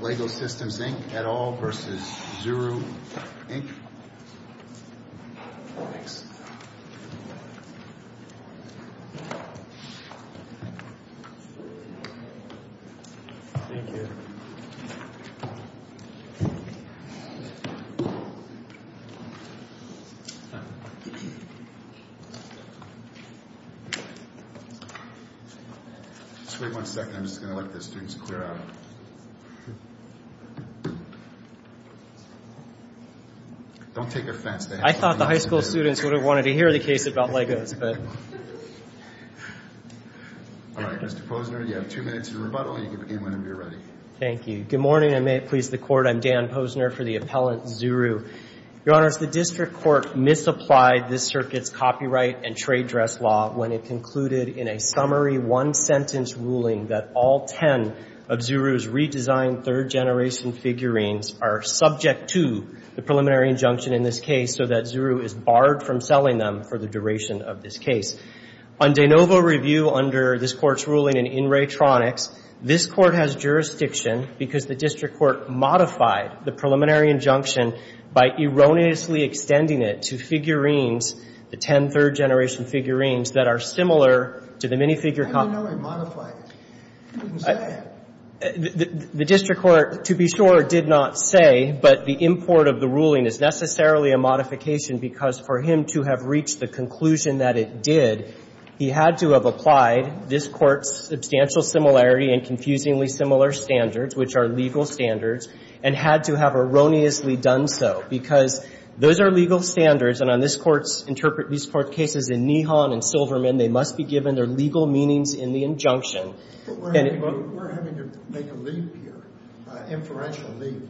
Lego Systems Inc. et al. v. Zuru Inc. Mr. Posner, you have two minutes to rebuttal, and you can begin whenever you're ready. Thank you. Good morning, and may it please the Court. I'm Dan Posner for the appellant, Zuru. Your Honors, the District Court misapplied this Circuit's Copyright and Trade Dress Law when it concluded in a summary one-sentence ruling that all ten of Zuru's redesigned third-generation figurines are subject to the preliminary injunction in this case so that Zuru is barred from selling them for the duration of this case. On de novo review under this Court's ruling in In Re Tronics, this Court has jurisdiction because the District Court modified the preliminary injunction by erroneously extending it to the ten third-generation figurines that are similar to the minifigure copies. I don't know I modified it. You didn't say that. The District Court, to be sure, did not say, but the import of the ruling is necessarily a modification because for him to have reached the conclusion that it did, he had to have applied this Court's substantial similarity and confusingly similar standards, which are legal standards, and had to have erroneously done so, because those are legal standards, and on this Court's interpret, these Court cases in Nihon and Silverman, they must be given their legal meanings in the injunction. But we're having to make a leap here, an inferential leap,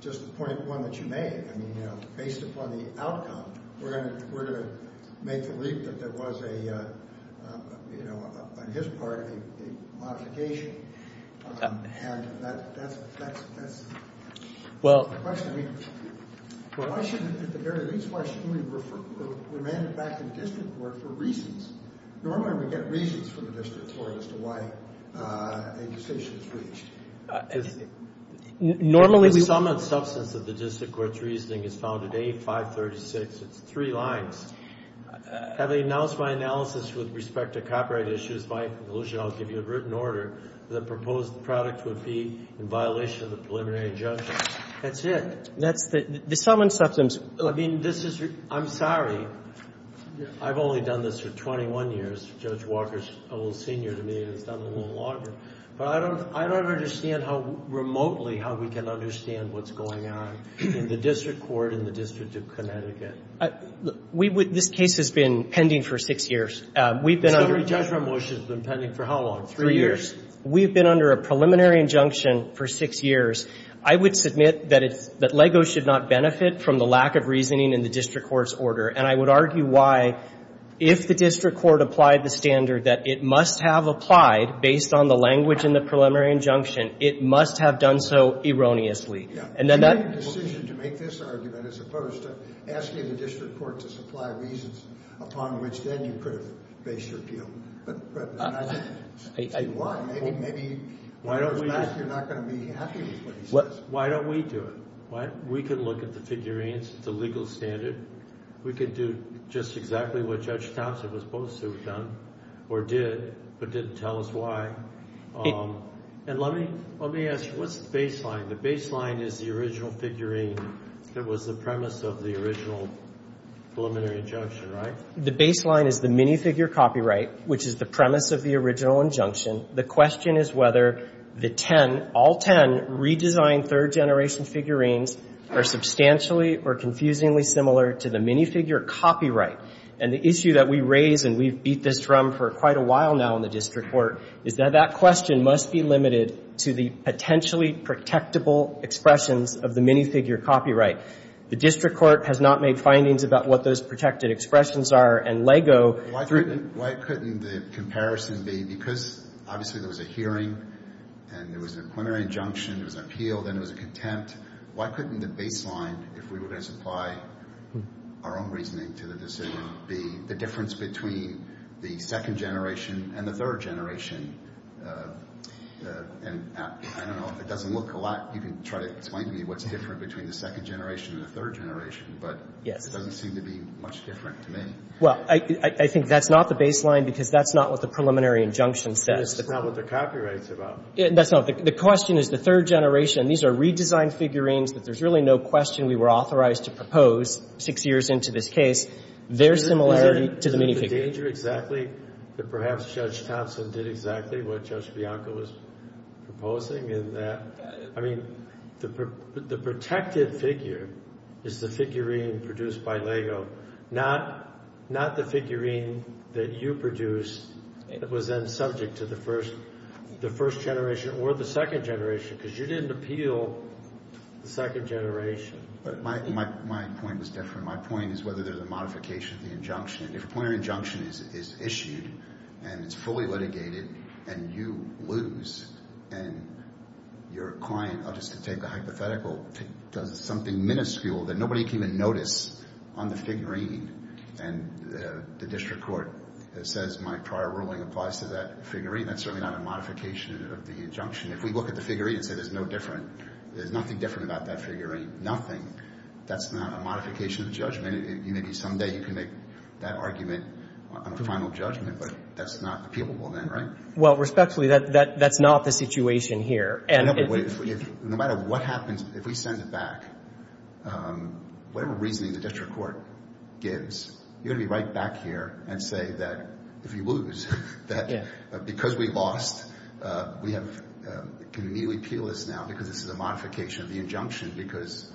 just the point of one that you made. I mean, you know, based upon the outcome, we're going to make the leap that there was a, you know, on his part, a modification. And that's, that's, that's... Well... My question, I mean, why shouldn't, at the very least, why shouldn't we refer, remand it back to the District Court for reasons? Normally we get reasons from the District Court as to why a decision is reached. Normally we... The sum and substance of the District Court's reasoning is found at A536. It's three lines. Having announced my analysis with respect to copyright issues, my conclusion, I'll give you a written order, the proposed product would be in violation of the preliminary injunction. That's it. That's the, the sum and substance... I mean, this is, I'm sorry. I've only done this for 21 years. Judge Walker's a little senior to me and has done it a little longer. But I don't, I don't understand how remotely how we can understand what's going on in the District Court, in the District of Connecticut. We would, this case has been pending for six years. We've been under... The summary judgment motion has been pending for how long? Three years. Three years. We've been under a preliminary injunction for six years. I would submit that it's, that LEGO should not benefit from the lack of reasoning in the District Court's order. And I would argue why, if the District Court applied the standard that it must have applied based on the language in the preliminary injunction, it must have done so erroneously. And then that... You made the decision to make this argument as opposed to asking the District Court to supply reasons upon which then you could have based your appeal. Why? Maybe you're not going to be happy with what he says. Why don't we do it? We could look at the figurines, the legal standard. We could do just exactly what Judge Thompson was supposed to have done, or did, but didn't tell us why. And let me, let me ask you, what's the baseline? The baseline is the original figurine that was the premise of the original preliminary injunction, right? The baseline is the minifigure copyright, which is the premise of the original injunction. The question is whether the ten, all ten, redesigned third-generation figurines are substantially or confusingly similar to the minifigure copyright. And the issue that we raise, and we've beat this drum for quite a while now in the District Court, is that that question must be limited to the potentially protectable expressions of the minifigure copyright. The District Court has not made findings about what those protected expressions are, and LEGO. Why couldn't, why couldn't the comparison be, because obviously there was a hearing and there was a preliminary injunction, there was an appeal, then there was a contempt, why couldn't the baseline, if we were going to supply our own reasoning to the decision, be the difference between the second generation and the third generation? And I don't know, if it doesn't look a lot, you can try to explain to me what's different between the second generation and the third generation, but it doesn't seem to be much different to me. Well, I think that's not the baseline because that's not what the preliminary injunction says. It's not what the copyright's about. That's not. The question is the third generation. These are redesigned figurines that there's really no question we were authorized to propose six years into this case. Their similarity to the minifigure. Isn't the danger exactly that perhaps Judge Thompson did exactly what Judge Bianco was proposing in that? I mean, the protected figure is the figurine produced by Lego. Not the figurine that you produced that was then subject to the first generation or the second generation because you didn't appeal the second generation. My point was different. My point is whether there's a modification of the injunction. If a preliminary injunction is issued and it's fully litigated and you lose and your client, I'll just take the hypothetical, does something minuscule that nobody can even notice on the figurine and the district court says, my prior ruling applies to that figurine. That's certainly not a modification of the injunction. If we look at the figurine and say there's no different, there's nothing different about that figurine. Nothing. That's not a modification of judgment. Maybe someday you can make that argument on a final judgment, but that's not appealable then, right? Well, respectfully, that's not the situation here. No matter what happens, if we send it back, whatever reasoning the district court gives, you're going to be right back here and say that if you lose, that because we lost, we can immediately appeal this now because this is a modification of the injunction because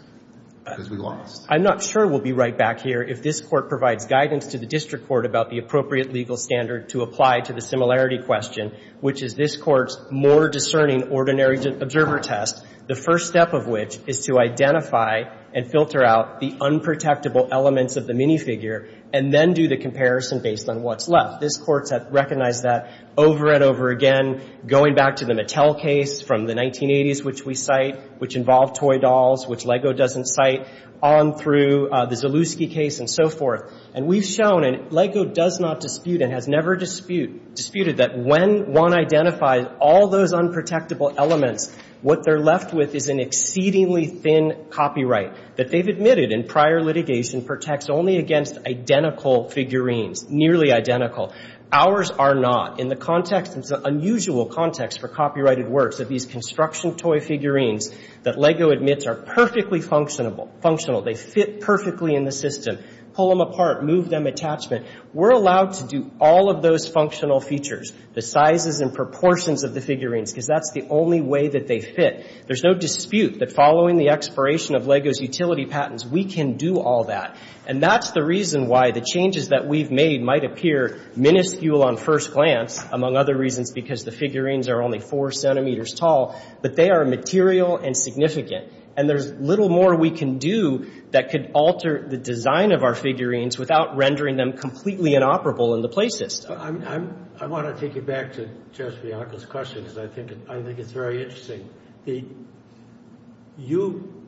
we lost. I'm not sure we'll be right back here if this court provides guidance to the district court about the appropriate legal standard to apply to the similarity question, which is this court's more discerning ordinary observer test, the first step of which is to identify and filter out the unprotectable elements of the minifigure and then do the comparison based on what's left. This court has recognized that over and over again, going back to the Mattel case from the 1980s, which we cite, which involved toy dolls, which LEGO doesn't cite. On through the Zalewski case and so forth. And we've shown, and LEGO does not dispute and has never disputed, that when one identifies all those unprotectable elements, what they're left with is an exceedingly thin copyright that they've admitted in prior litigation protects only against identical figurines, nearly identical. Ours are not. In the context, it's an unusual context for copyrighted works, of these construction toy figurines that LEGO admits are perfectly functional. They fit perfectly in the system. Pull them apart. Move them attachment. We're allowed to do all of those functional features, the sizes and proportions of the figurines, because that's the only way that they fit. There's no dispute that following the expiration of LEGO's utility patents, we can do all that. And that's the reason why the changes that we've made might appear minuscule on first glance, among other reasons, because the figurines are only four centimeters tall, but they are material and significant. And there's little more we can do that could alter the design of our figurines without rendering them completely inoperable in the play system. I want to take you back to Judge Bianco's question, because I think it's very interesting. You,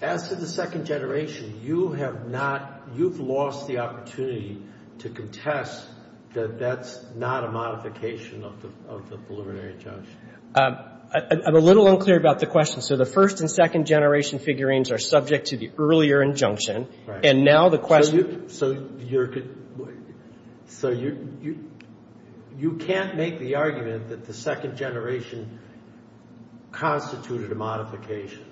as to the second generation, you have not, you've lost the opportunity to contest that that's not a modification of the preliminary injunction. I'm a little unclear about the question. So the first and second generation figurines are subject to the earlier injunction. And now the question. So you can't make the argument that the second generation constituted a modification.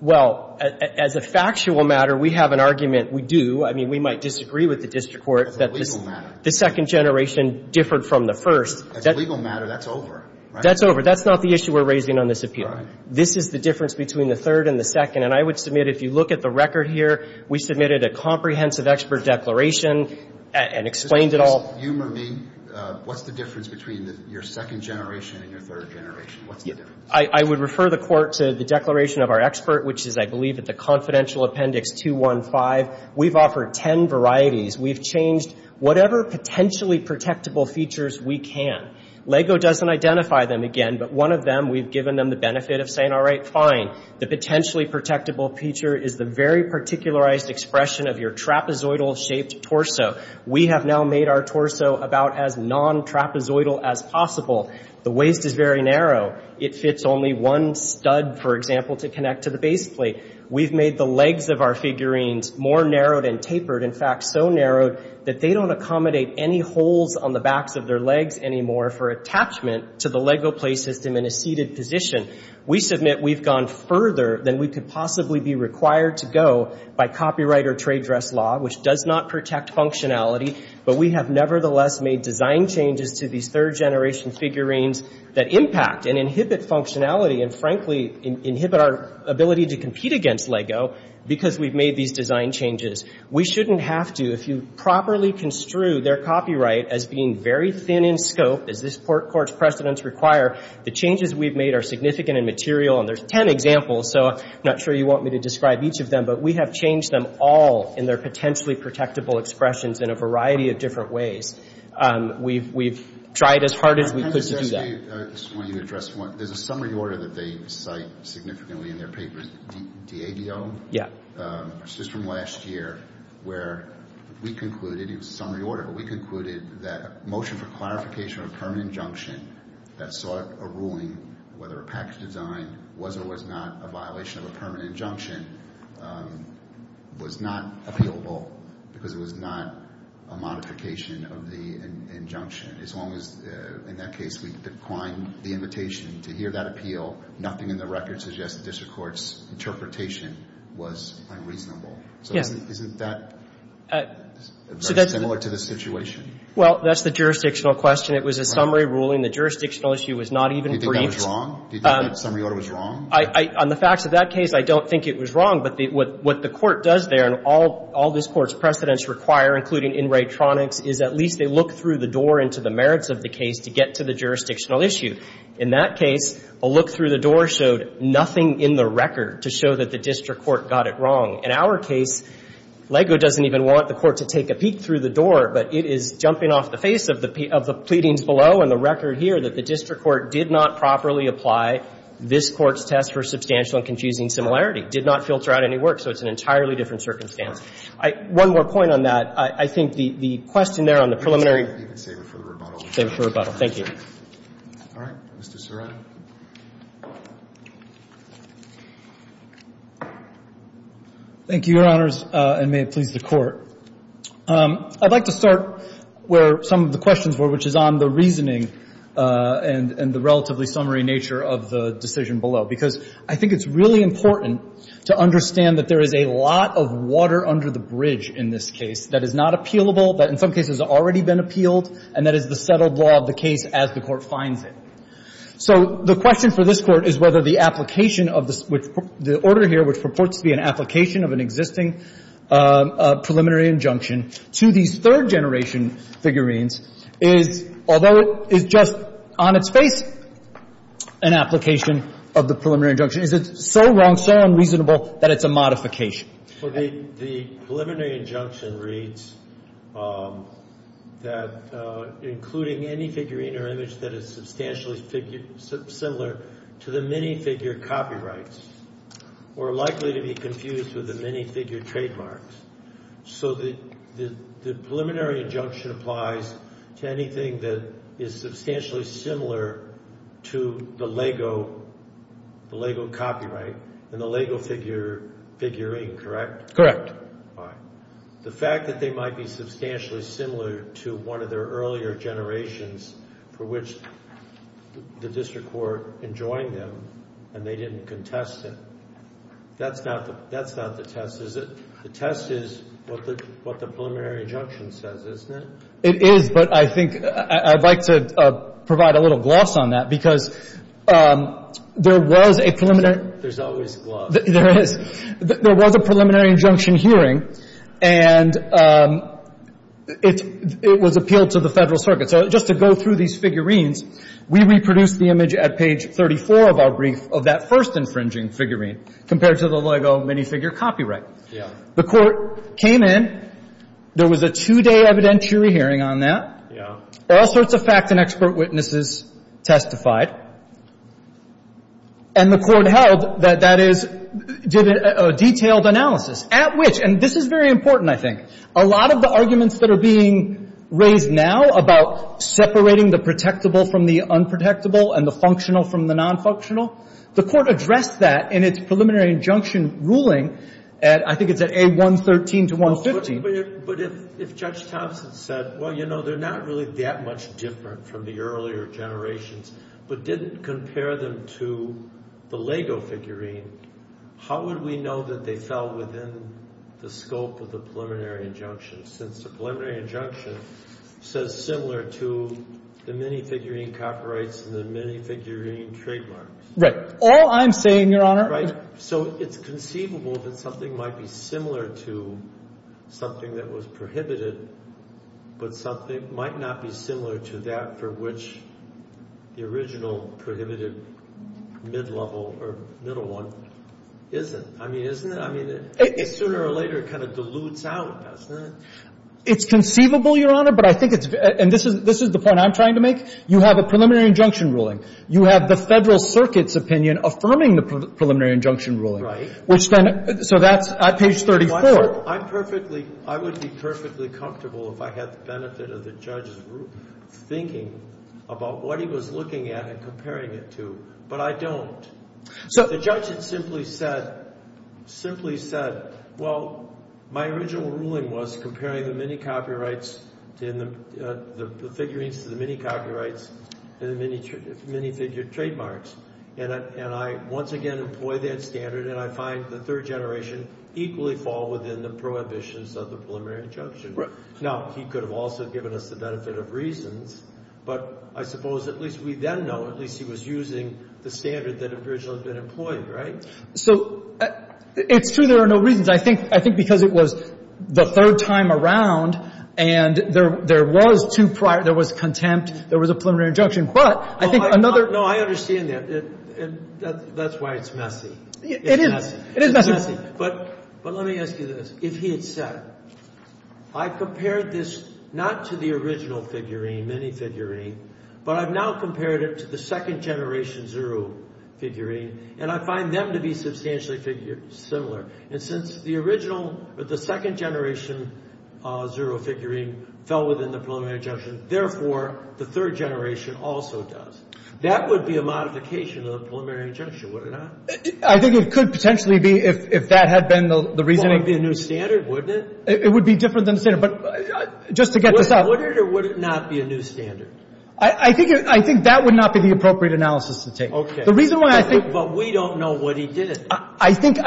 Well, as a factual matter, we have an argument. We do. I mean, we might disagree with the district court. That's a legal matter. The second generation differed from the first. That's a legal matter. That's over. That's over. That's not the issue we're raising on this appeal. Right. This is the difference between the third and the second. And I would submit, if you look at the record here, we submitted a comprehensive expert declaration and explained it all. Just humor me. What's the difference between your second generation and your third generation? What's the difference? I would refer the court to the declaration of our expert, which is, I believe, at the confidential appendix 215. We've offered ten varieties. We've changed whatever potentially protectable features we can. LEGO doesn't identify them again, but one of them we've given them the benefit of saying, all right, fine. The potentially protectable feature is the very particularized expression of your trapezoidal-shaped torso. We have now made our torso about as non-trapezoidal as possible. The waist is very narrow. It fits only one stud, for example, to connect to the base plate. We've made the legs of our figurines more narrowed and tapered, in fact, so narrow that they don't accommodate any holes on the backs of their legs anymore for attachment to the LEGO play system in a seated position. We submit we've gone further than we could possibly be required to go by copyright or trade dress law, which does not protect functionality, but we have nevertheless made design changes to these third-generation figurines that impact and inhibit functionality and, frankly, inhibit our ability to compete against LEGO because we've made these design changes. We shouldn't have to. If you properly construe their copyright as being very thin in scope, as this Court's precedents require, the changes we've made are significant and material, and there's ten examples, so I'm not sure you want me to describe each of them, but we have changed them all in their potentially protectable expressions in a variety of different ways. We've tried as hard as we could to do that. I just want you to address one. There's a summary order that they cite significantly in their papers. DABO? Yeah. It's just from last year where we concluded, it was a summary order, but we concluded that a motion for clarification of a permanent injunction that sought a ruling whether a package design was or was not a violation of a permanent injunction was not appealable because it was not a modification of the injunction. As long as, in that case, we declined the invitation to hear that appeal, nothing in the record suggests the District Court's interpretation was unreasonable. So isn't that very similar to the situation? Well, that's the jurisdictional question. It was a summary ruling. The jurisdictional issue was not even briefed. Do you think that was wrong? Do you think that summary order was wrong? On the facts of that case, I don't think it was wrong, but what the Court does there, and all this Court's precedents require, including in retronics, is at least they look through the door into the merits of the case to get to the jurisdictional issue. In that case, a look through the door showed nothing in the record to show that the District Court got it wrong. In our case, LEGO doesn't even want the Court to take a peek through the door, but it is jumping off the face of the pleadings below and the record here that the District Court did not properly apply this Court's test for substantial and confusing similarity, did not filter out any work. So it's an entirely different circumstance. One more point on that. I think the question there on the preliminary. Let's save it for the rebuttal. Save it for rebuttal. Thank you. All right. Mr. Cerullo. Thank you, Your Honors, and may it please the Court. I'd like to start where some of the questions were, which is on the reasoning and the relatively summary nature of the decision below. Because I think it's really important to understand that there is a lot of water under the bridge in this case that is not appealable, that in some cases has already been appealed, and that is the settled law of the case as the Court finds it. So the question for this Court is whether the application of the order here, which purports to be an application of an existing preliminary injunction to these third-generation figurines is, although it is just on its face, an application of the preliminary injunction. Is it so wrong, so unreasonable that it's a modification? The preliminary injunction reads that including any figurine or image that is substantially similar to the minifigure copyrights are likely to be confused with the minifigure trademarks. So the preliminary injunction applies to anything that is substantially similar to the LEGO copyright and the LEGO figurine, correct? Correct. All right. The fact that they might be substantially similar to one of their earlier generations for which the district court enjoined them and they didn't contest it, that's not the test, is it? The test is what the preliminary injunction says, isn't it? It is, but I think I'd like to provide a little gloss on that because there was a preliminary – There's always gloss. There is. There was a preliminary injunction hearing, and it was appealed to the Federal Circuit. So just to go through these figurines, we reproduced the image at page 34 of our brief of that first infringing figurine compared to the LEGO minifigure copyright. The court came in. There was a two-day evidentiary hearing on that. Yeah. All sorts of fact and expert witnesses testified, and the court held that that is – did a detailed analysis at which – and this is very important, I think. A lot of the arguments that are being raised now about separating the protectable from the unprotectable and the functional from the nonfunctional, the court addressed that in its preliminary injunction ruling at – I think it's at A113 to 115. But if Judge Thompson said, well, you know, they're not really that much different from the earlier generations but didn't compare them to the LEGO figurine, how would we know that they fell within the scope of the preliminary injunction since the preliminary injunction says similar to the minifigurine copyrights and the minifigurine trademarks? Right. All I'm saying, Your Honor – Right. So it's conceivable that something might be similar to something that was prohibited but something might not be similar to that for which the original prohibited mid-level or middle one isn't. I mean, isn't it? I mean, sooner or later it kind of dilutes out, doesn't it? It's conceivable, Your Honor, but I think it's – and this is the point I'm trying to make. You have a preliminary injunction ruling. You have the Federal Circuit's opinion affirming the preliminary injunction ruling. Right. Which then – so that's at page 34. I'm perfectly – I would be perfectly comfortable if I had the benefit of the judge's thinking about what he was looking at and comparing it to, but I don't. The judge had simply said – simply said, well, my original ruling was comparing the minicopyrights – the figurines to the minicopyrights and the minifigure trademarks, and I once again employ that standard and I find the third generation equally fall within the prohibitions of the preliminary injunction. Right. Now, he could have also given us the benefit of reasons, but I suppose at least we then know at least he was using the standard that had originally been employed, right? So it's true there are no reasons. I think because it was the third time around and there was contempt, there was a preliminary injunction, but I think another – No, I understand that. That's why it's messy. It is. It is messy. But let me ask you this. If he had said, I compared this not to the original figurine, minifigurine, but I've now compared it to the second generation zero figurine and I find them to be substantially similar. And since the original – the second generation zero figurine fell within the preliminary injunction, therefore, the third generation also does. That would be a modification of the preliminary injunction, would it not? I think it could potentially be if that had been the reasoning. It would be a new standard, wouldn't it? It would be different than the standard, but just to get this out. Would it or would it not be a new standard? I think that would not be the appropriate analysis to take. Okay. The reason why I think – But we don't know what he did. I think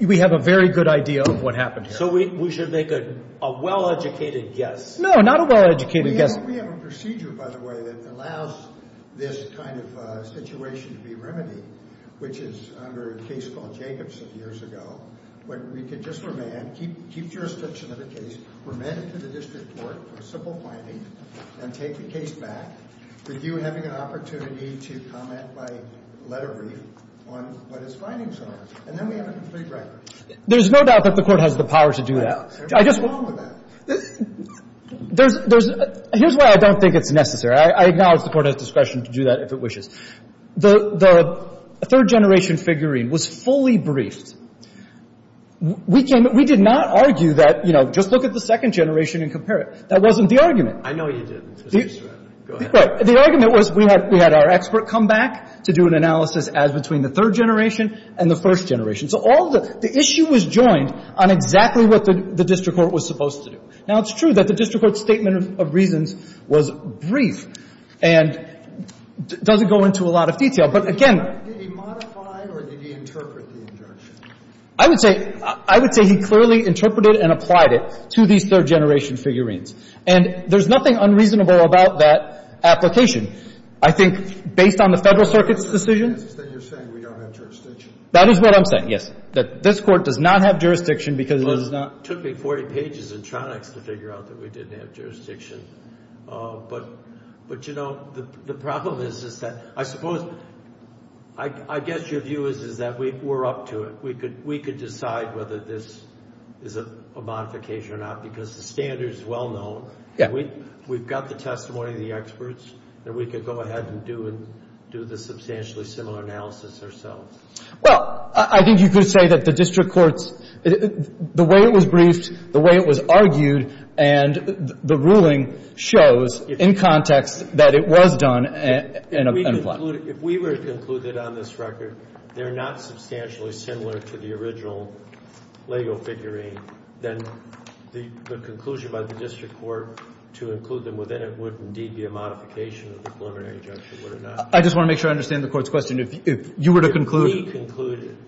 we have a very good idea of what happened here. So we should make a well-educated guess. No, not a well-educated guess. We have a procedure, by the way, that allows this kind of situation to be remedied, which is under a case called Jacobson years ago. We could just remand, keep jurisdiction of the case, remand it to the district court for a simple finding, and take the case back with you having an opportunity to comment by letter brief on what his findings are. And then we have a complete record. There's no doubt that the Court has the power to do that. There's nothing wrong with that. There's – here's why I don't think it's necessary. I acknowledge the Court has discretion to do that if it wishes. The third-generation figurine was fully briefed. We came – we did not argue that, you know, just look at the second generation and compare it. That wasn't the argument. I know you didn't. Go ahead. The argument was we had our expert come back to do an analysis as between the third generation and the first generation. So all the – the issue was joined on exactly what the district court was supposed to do. Now, it's true that the district court's statement of reasons was brief and doesn't go into a lot of detail. But again – Did he modify or did he interpret the injunction? I would say – I would say he clearly interpreted and applied it to these third-generation figurines. And there's nothing unreasonable about that application. I think based on the Federal Circuit's decision – So you're saying we don't have jurisdiction? That is what I'm saying, yes, that this Court does not have jurisdiction because it does not – Well, it took me 40 pages in Tronics to figure out that we didn't have jurisdiction. But – but, you know, the problem is that – I suppose – I guess your view is that we're up to it. We could – we could decide whether this is a modification or not because the standard is well known. Yeah. We've got the testimony of the experts and we could go ahead and do the substantially similar analysis ourselves. Well, I think you could say that the district court's – the way it was briefed, the way it was argued, and the ruling shows in context that it was done and applied. If we were to conclude that on this record they're not substantially similar to the original Lego figurine, then the conclusion by the district court to include them within it would indeed be a modification of the preliminary injunction, would it not? I just want to make sure I understand the Court's question. If you were to conclude –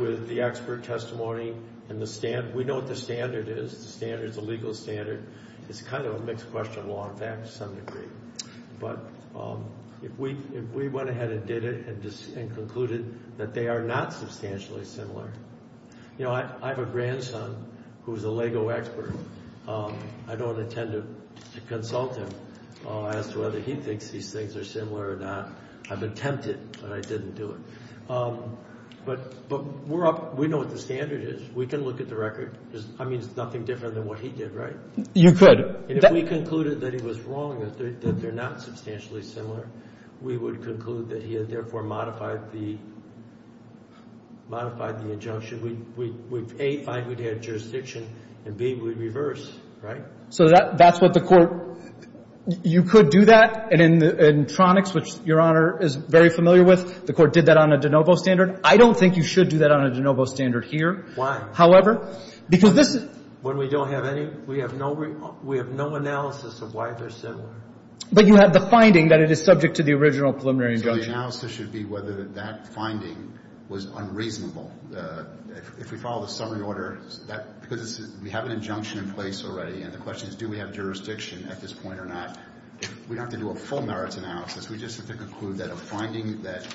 with the expert testimony and the – we know what the standard is. The standard's a legal standard. It's kind of a mixed question law, in fact, to some degree. But if we went ahead and did it and concluded that they are not substantially similar – you know, I have a grandson who's a Lego expert. I don't intend to consult him as to whether he thinks these things are similar or not. I've attempted, but I didn't do it. But we're up – we know what the standard is. We can look at the record. I mean, it's nothing different than what he did, right? You could. And if we concluded that he was wrong, that they're not substantially similar, we would conclude that he had, therefore, modified the injunction. We'd, A, find we'd had jurisdiction, and B, we'd reverse, right? So that's what the Court – you could do that. And in Tronics, which Your Honor is very familiar with, the Court did that on a de novo standard. I don't think you should do that on a de novo standard here. However, because this is – When we don't have any – we have no analysis of why they're similar. But you have the finding that it is subject to the original preliminary injunction. So the analysis should be whether that finding was unreasonable. If we follow the summary order, that – because we have an injunction in place already, and the question is do we have jurisdiction at this point or not. We don't have to do a full merits analysis. We just have to conclude that a finding that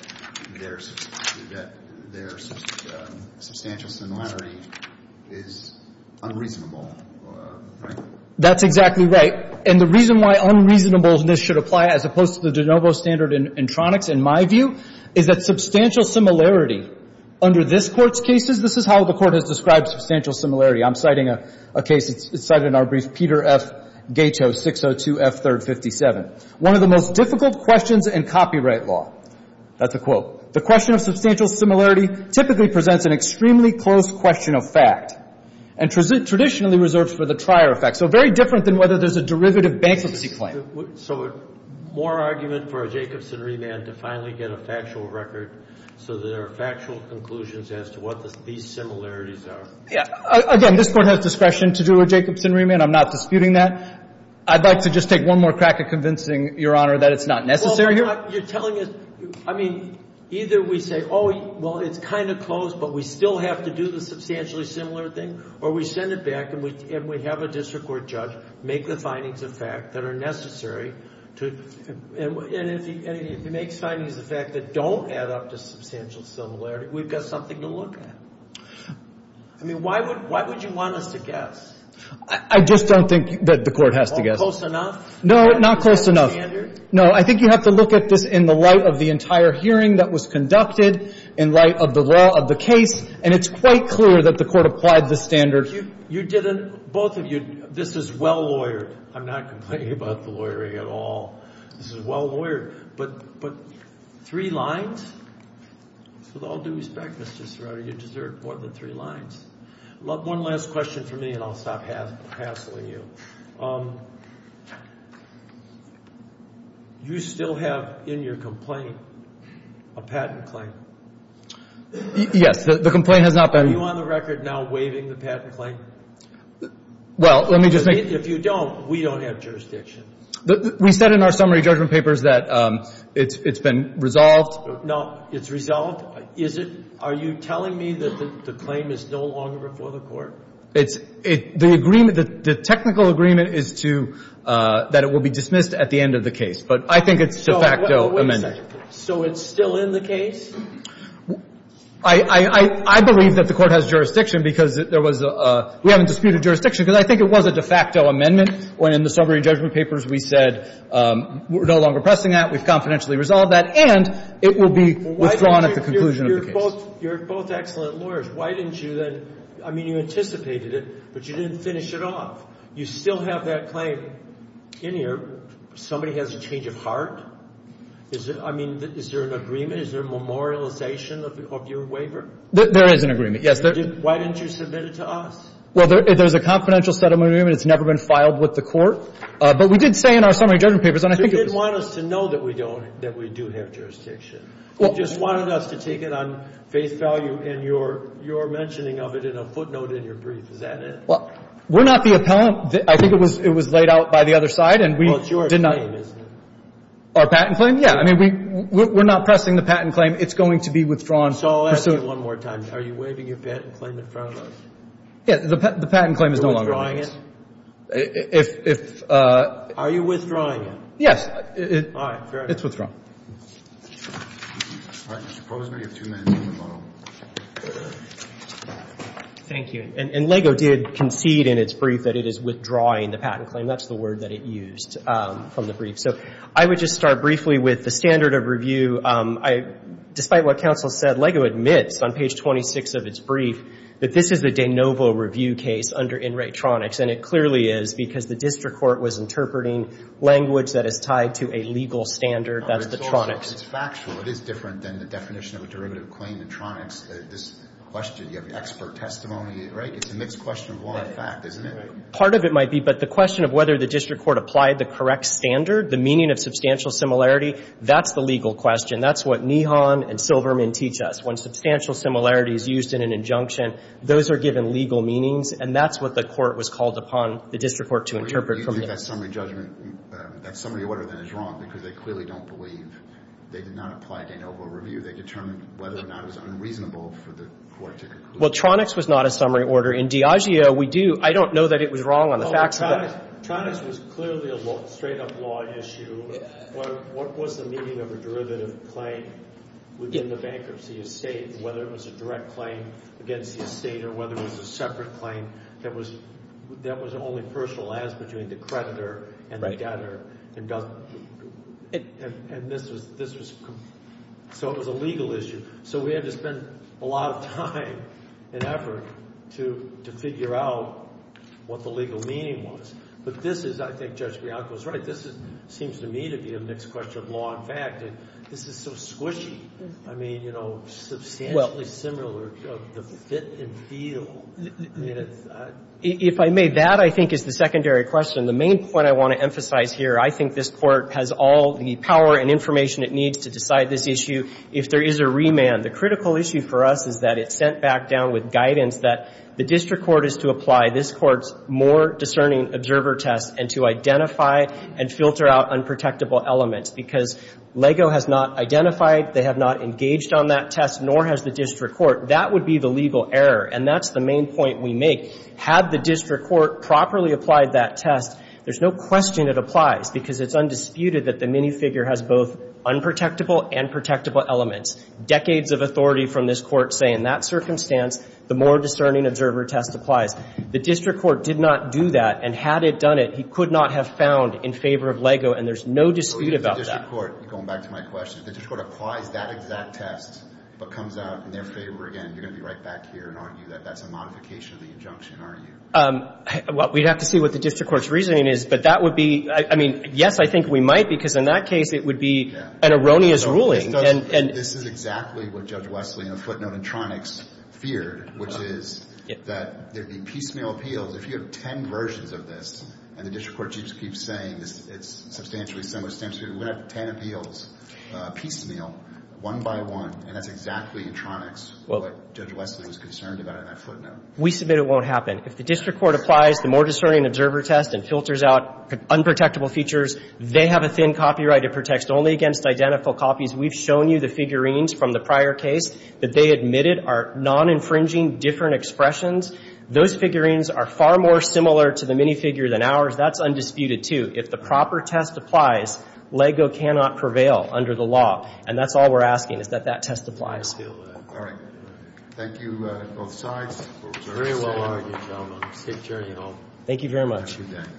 there's substantial similarity is unreasonable, right? That's exactly right. And the reason why unreasonableness should apply as opposed to the de novo standard in Tronics, in my view, is that substantial similarity under this Court's cases, this is how the Court has described substantial similarity. I'm citing a case. It's cited in our brief, Peter F. Gato, 602 F. 3rd, 57. One of the most difficult questions in copyright law. That's a quote. The question of substantial similarity typically presents an extremely close question of fact and traditionally reserves for the trier effect. So very different than whether there's a derivative bankruptcy claim. So more argument for a Jacobson remand to finally get a factual record so that there are factual conclusions as to what these similarities are. Again, this Court has discretion to do a Jacobson remand. I'm not disputing that. I'd like to just take one more crack at convincing Your Honor that it's not necessary here. Well, you're telling us – I mean, either we say, oh, well, it's kind of close, but we still have to do the substantially similar thing, or we send it back and we have a district court judge make the findings of fact that are necessary. And if he makes findings of fact that don't add up to substantial similarity, we've got something to look at. I mean, why would you want us to guess? I just don't think that the Court has to guess. Close enough? No, not close enough. Standard? No, I think you have to look at this in the light of the entire hearing that was conducted, in light of the law of the case, and it's quite clear that the Court applied the standard. You didn't – both of you – this is well-lawyered. I'm not complaining about the lawyering at all. This is well-lawyered. But three lines? With all due respect, Mr. Sirota, you deserve more than three lines. One last question from me and I'll stop hassling you. You still have in your complaint a patent claim? Yes. The complaint has not been – Are you on the record now waiving the patent claim? Well, let me just make – If you don't, we don't have jurisdiction. We said in our summary judgment papers that it's been resolved. No. It's resolved? Is it? Are you telling me that the claim is no longer before the Court? It's – the agreement – the technical agreement is to – that it will be dismissed at the end of the case. But I think it's de facto amended. So it's still in the case? I believe that the Court has jurisdiction because there was a – we haven't disputed jurisdiction because I think it was a de facto amendment when in the summary judgment papers we said we're no longer pressing that, we've confidentially resolved that, and it will be withdrawn at the conclusion of the case. You're both excellent lawyers. Why didn't you then – I mean, you anticipated it, but you didn't finish it off. You still have that claim in here. Somebody has a change of heart? Is it – I mean, is there an agreement? Is there a memorialization of your waiver? There is an agreement, yes. Why didn't you submit it to us? Well, there's a confidential settlement agreement. It's never been filed with the Court. But we did say in our summary judgment papers, and I think it was – So you didn't want us to know that we don't – that we do have jurisdiction. You just wanted us to take it on faith value in your mentioning of it in a footnote in your brief. Is that it? Well, we're not the appellant. I think it was laid out by the other side, and we did not – Well, it's your claim, isn't it? Our patent claim? Yeah. I mean, we're not pressing the patent claim. It's going to be withdrawn. So I'll ask you one more time. Are you waiving your patent claim in front of us? Yeah. The patent claim is no longer in place. If – Are you withdrawing it? Yes. All right. Fair enough. It's withdrawn. All right. Mr. Posner, you have two minutes on the model. Thank you. And LEGO did concede in its brief that it is withdrawing the patent claim. That's the word that it used from the brief. So I would just start briefly with the standard of review. Despite what counsel said, LEGO admits on page 26 of its brief that this is a de novo review case under Enright Tronics, and it clearly is because the district court was interpreting language that is tied to a legal standard. That's the Tronics. It's factual. It is different than the definition of a derivative claim in Tronics. This question, you have expert testimony, right? It's a mixed question of law and fact, isn't it? Part of it might be, but the question of whether the district court applied the correct standard, the meaning of substantial similarity, that's the legal question. That's what Nihon and Silverman teach us. When substantial similarity is used in an injunction, those are given legal meanings, and that's what the court was called upon the district court to interpret. You think that summary judgment, that summary order then is wrong because they clearly don't believe they did not apply de novo review. They determined whether or not it was unreasonable for the court to conclude. Well, Tronics was not a summary order. In Diageo, we do. I don't know that it was wrong on the facts of that. Tronics was clearly a straight-up law issue. What was the meaning of a derivative claim within the bankruptcy estate, whether it was a direct claim against the estate or whether it was a separate claim that was only personalized between the creditor and the debtor? It was a legal issue. We had to spend a lot of time and effort to figure out what the legal meaning was. I think Judge Bianco is right. This seems to me to be a mixed question of law and fact. This is so squishy. I mean, you know, substantially similar of the fit and feel. If I may, that I think is the secondary question. The main point I want to emphasize here, I think this court has all the power and information it needs to decide this issue. If there is a remand, the critical issue for us is that it's sent back down with guidance that the district court is to apply this court's more discerning observer test and to filter out unprotectable elements. Because LEGO has not identified, they have not engaged on that test, nor has the district court. That would be the legal error, and that's the main point we make. Had the district court properly applied that test, there's no question it applies because it's undisputed that the minifigure has both unprotectable and protectable elements. Decades of authority from this court saying that circumstance, the more discerning observer test applies. The district court did not do that, and had it done it, he could not have found in favor of LEGO, and there's no dispute about that. The district court, going back to my question, if the district court applies that exact test but comes out in their favor again, you're going to be right back here and argue that that's a modification of the injunction, aren't you? Well, we'd have to see what the district court's reasoning is, but that would be, I mean, yes, I think we might because in that case it would be an erroneous ruling. This is exactly what Judge Wesley in the footnote in Tronics feared, which is that there'd be piecemeal appeals. If you have ten versions of this, and the district court keeps saying it's substantially similar, it would have ten appeals piecemeal, one by one, and that's exactly in Tronics what Judge Wesley was concerned about in that footnote. We submit it won't happen. If the district court applies the more discerning observer test and filters out unprotectable features, they have a thin copyright to protect only against identical copies. We've shown you the figurines from the prior case that they admitted are non-infringing different expressions. Those figurines are far more similar to the minifigure than ours. That's undisputed, too. If the proper test applies, LEGO cannot prevail under the law, and that's all we're asking is that that test applies. All right. Thank you, both sides. Very well argued, gentlemen. Safe journey home. Thank you very much. Have a good day.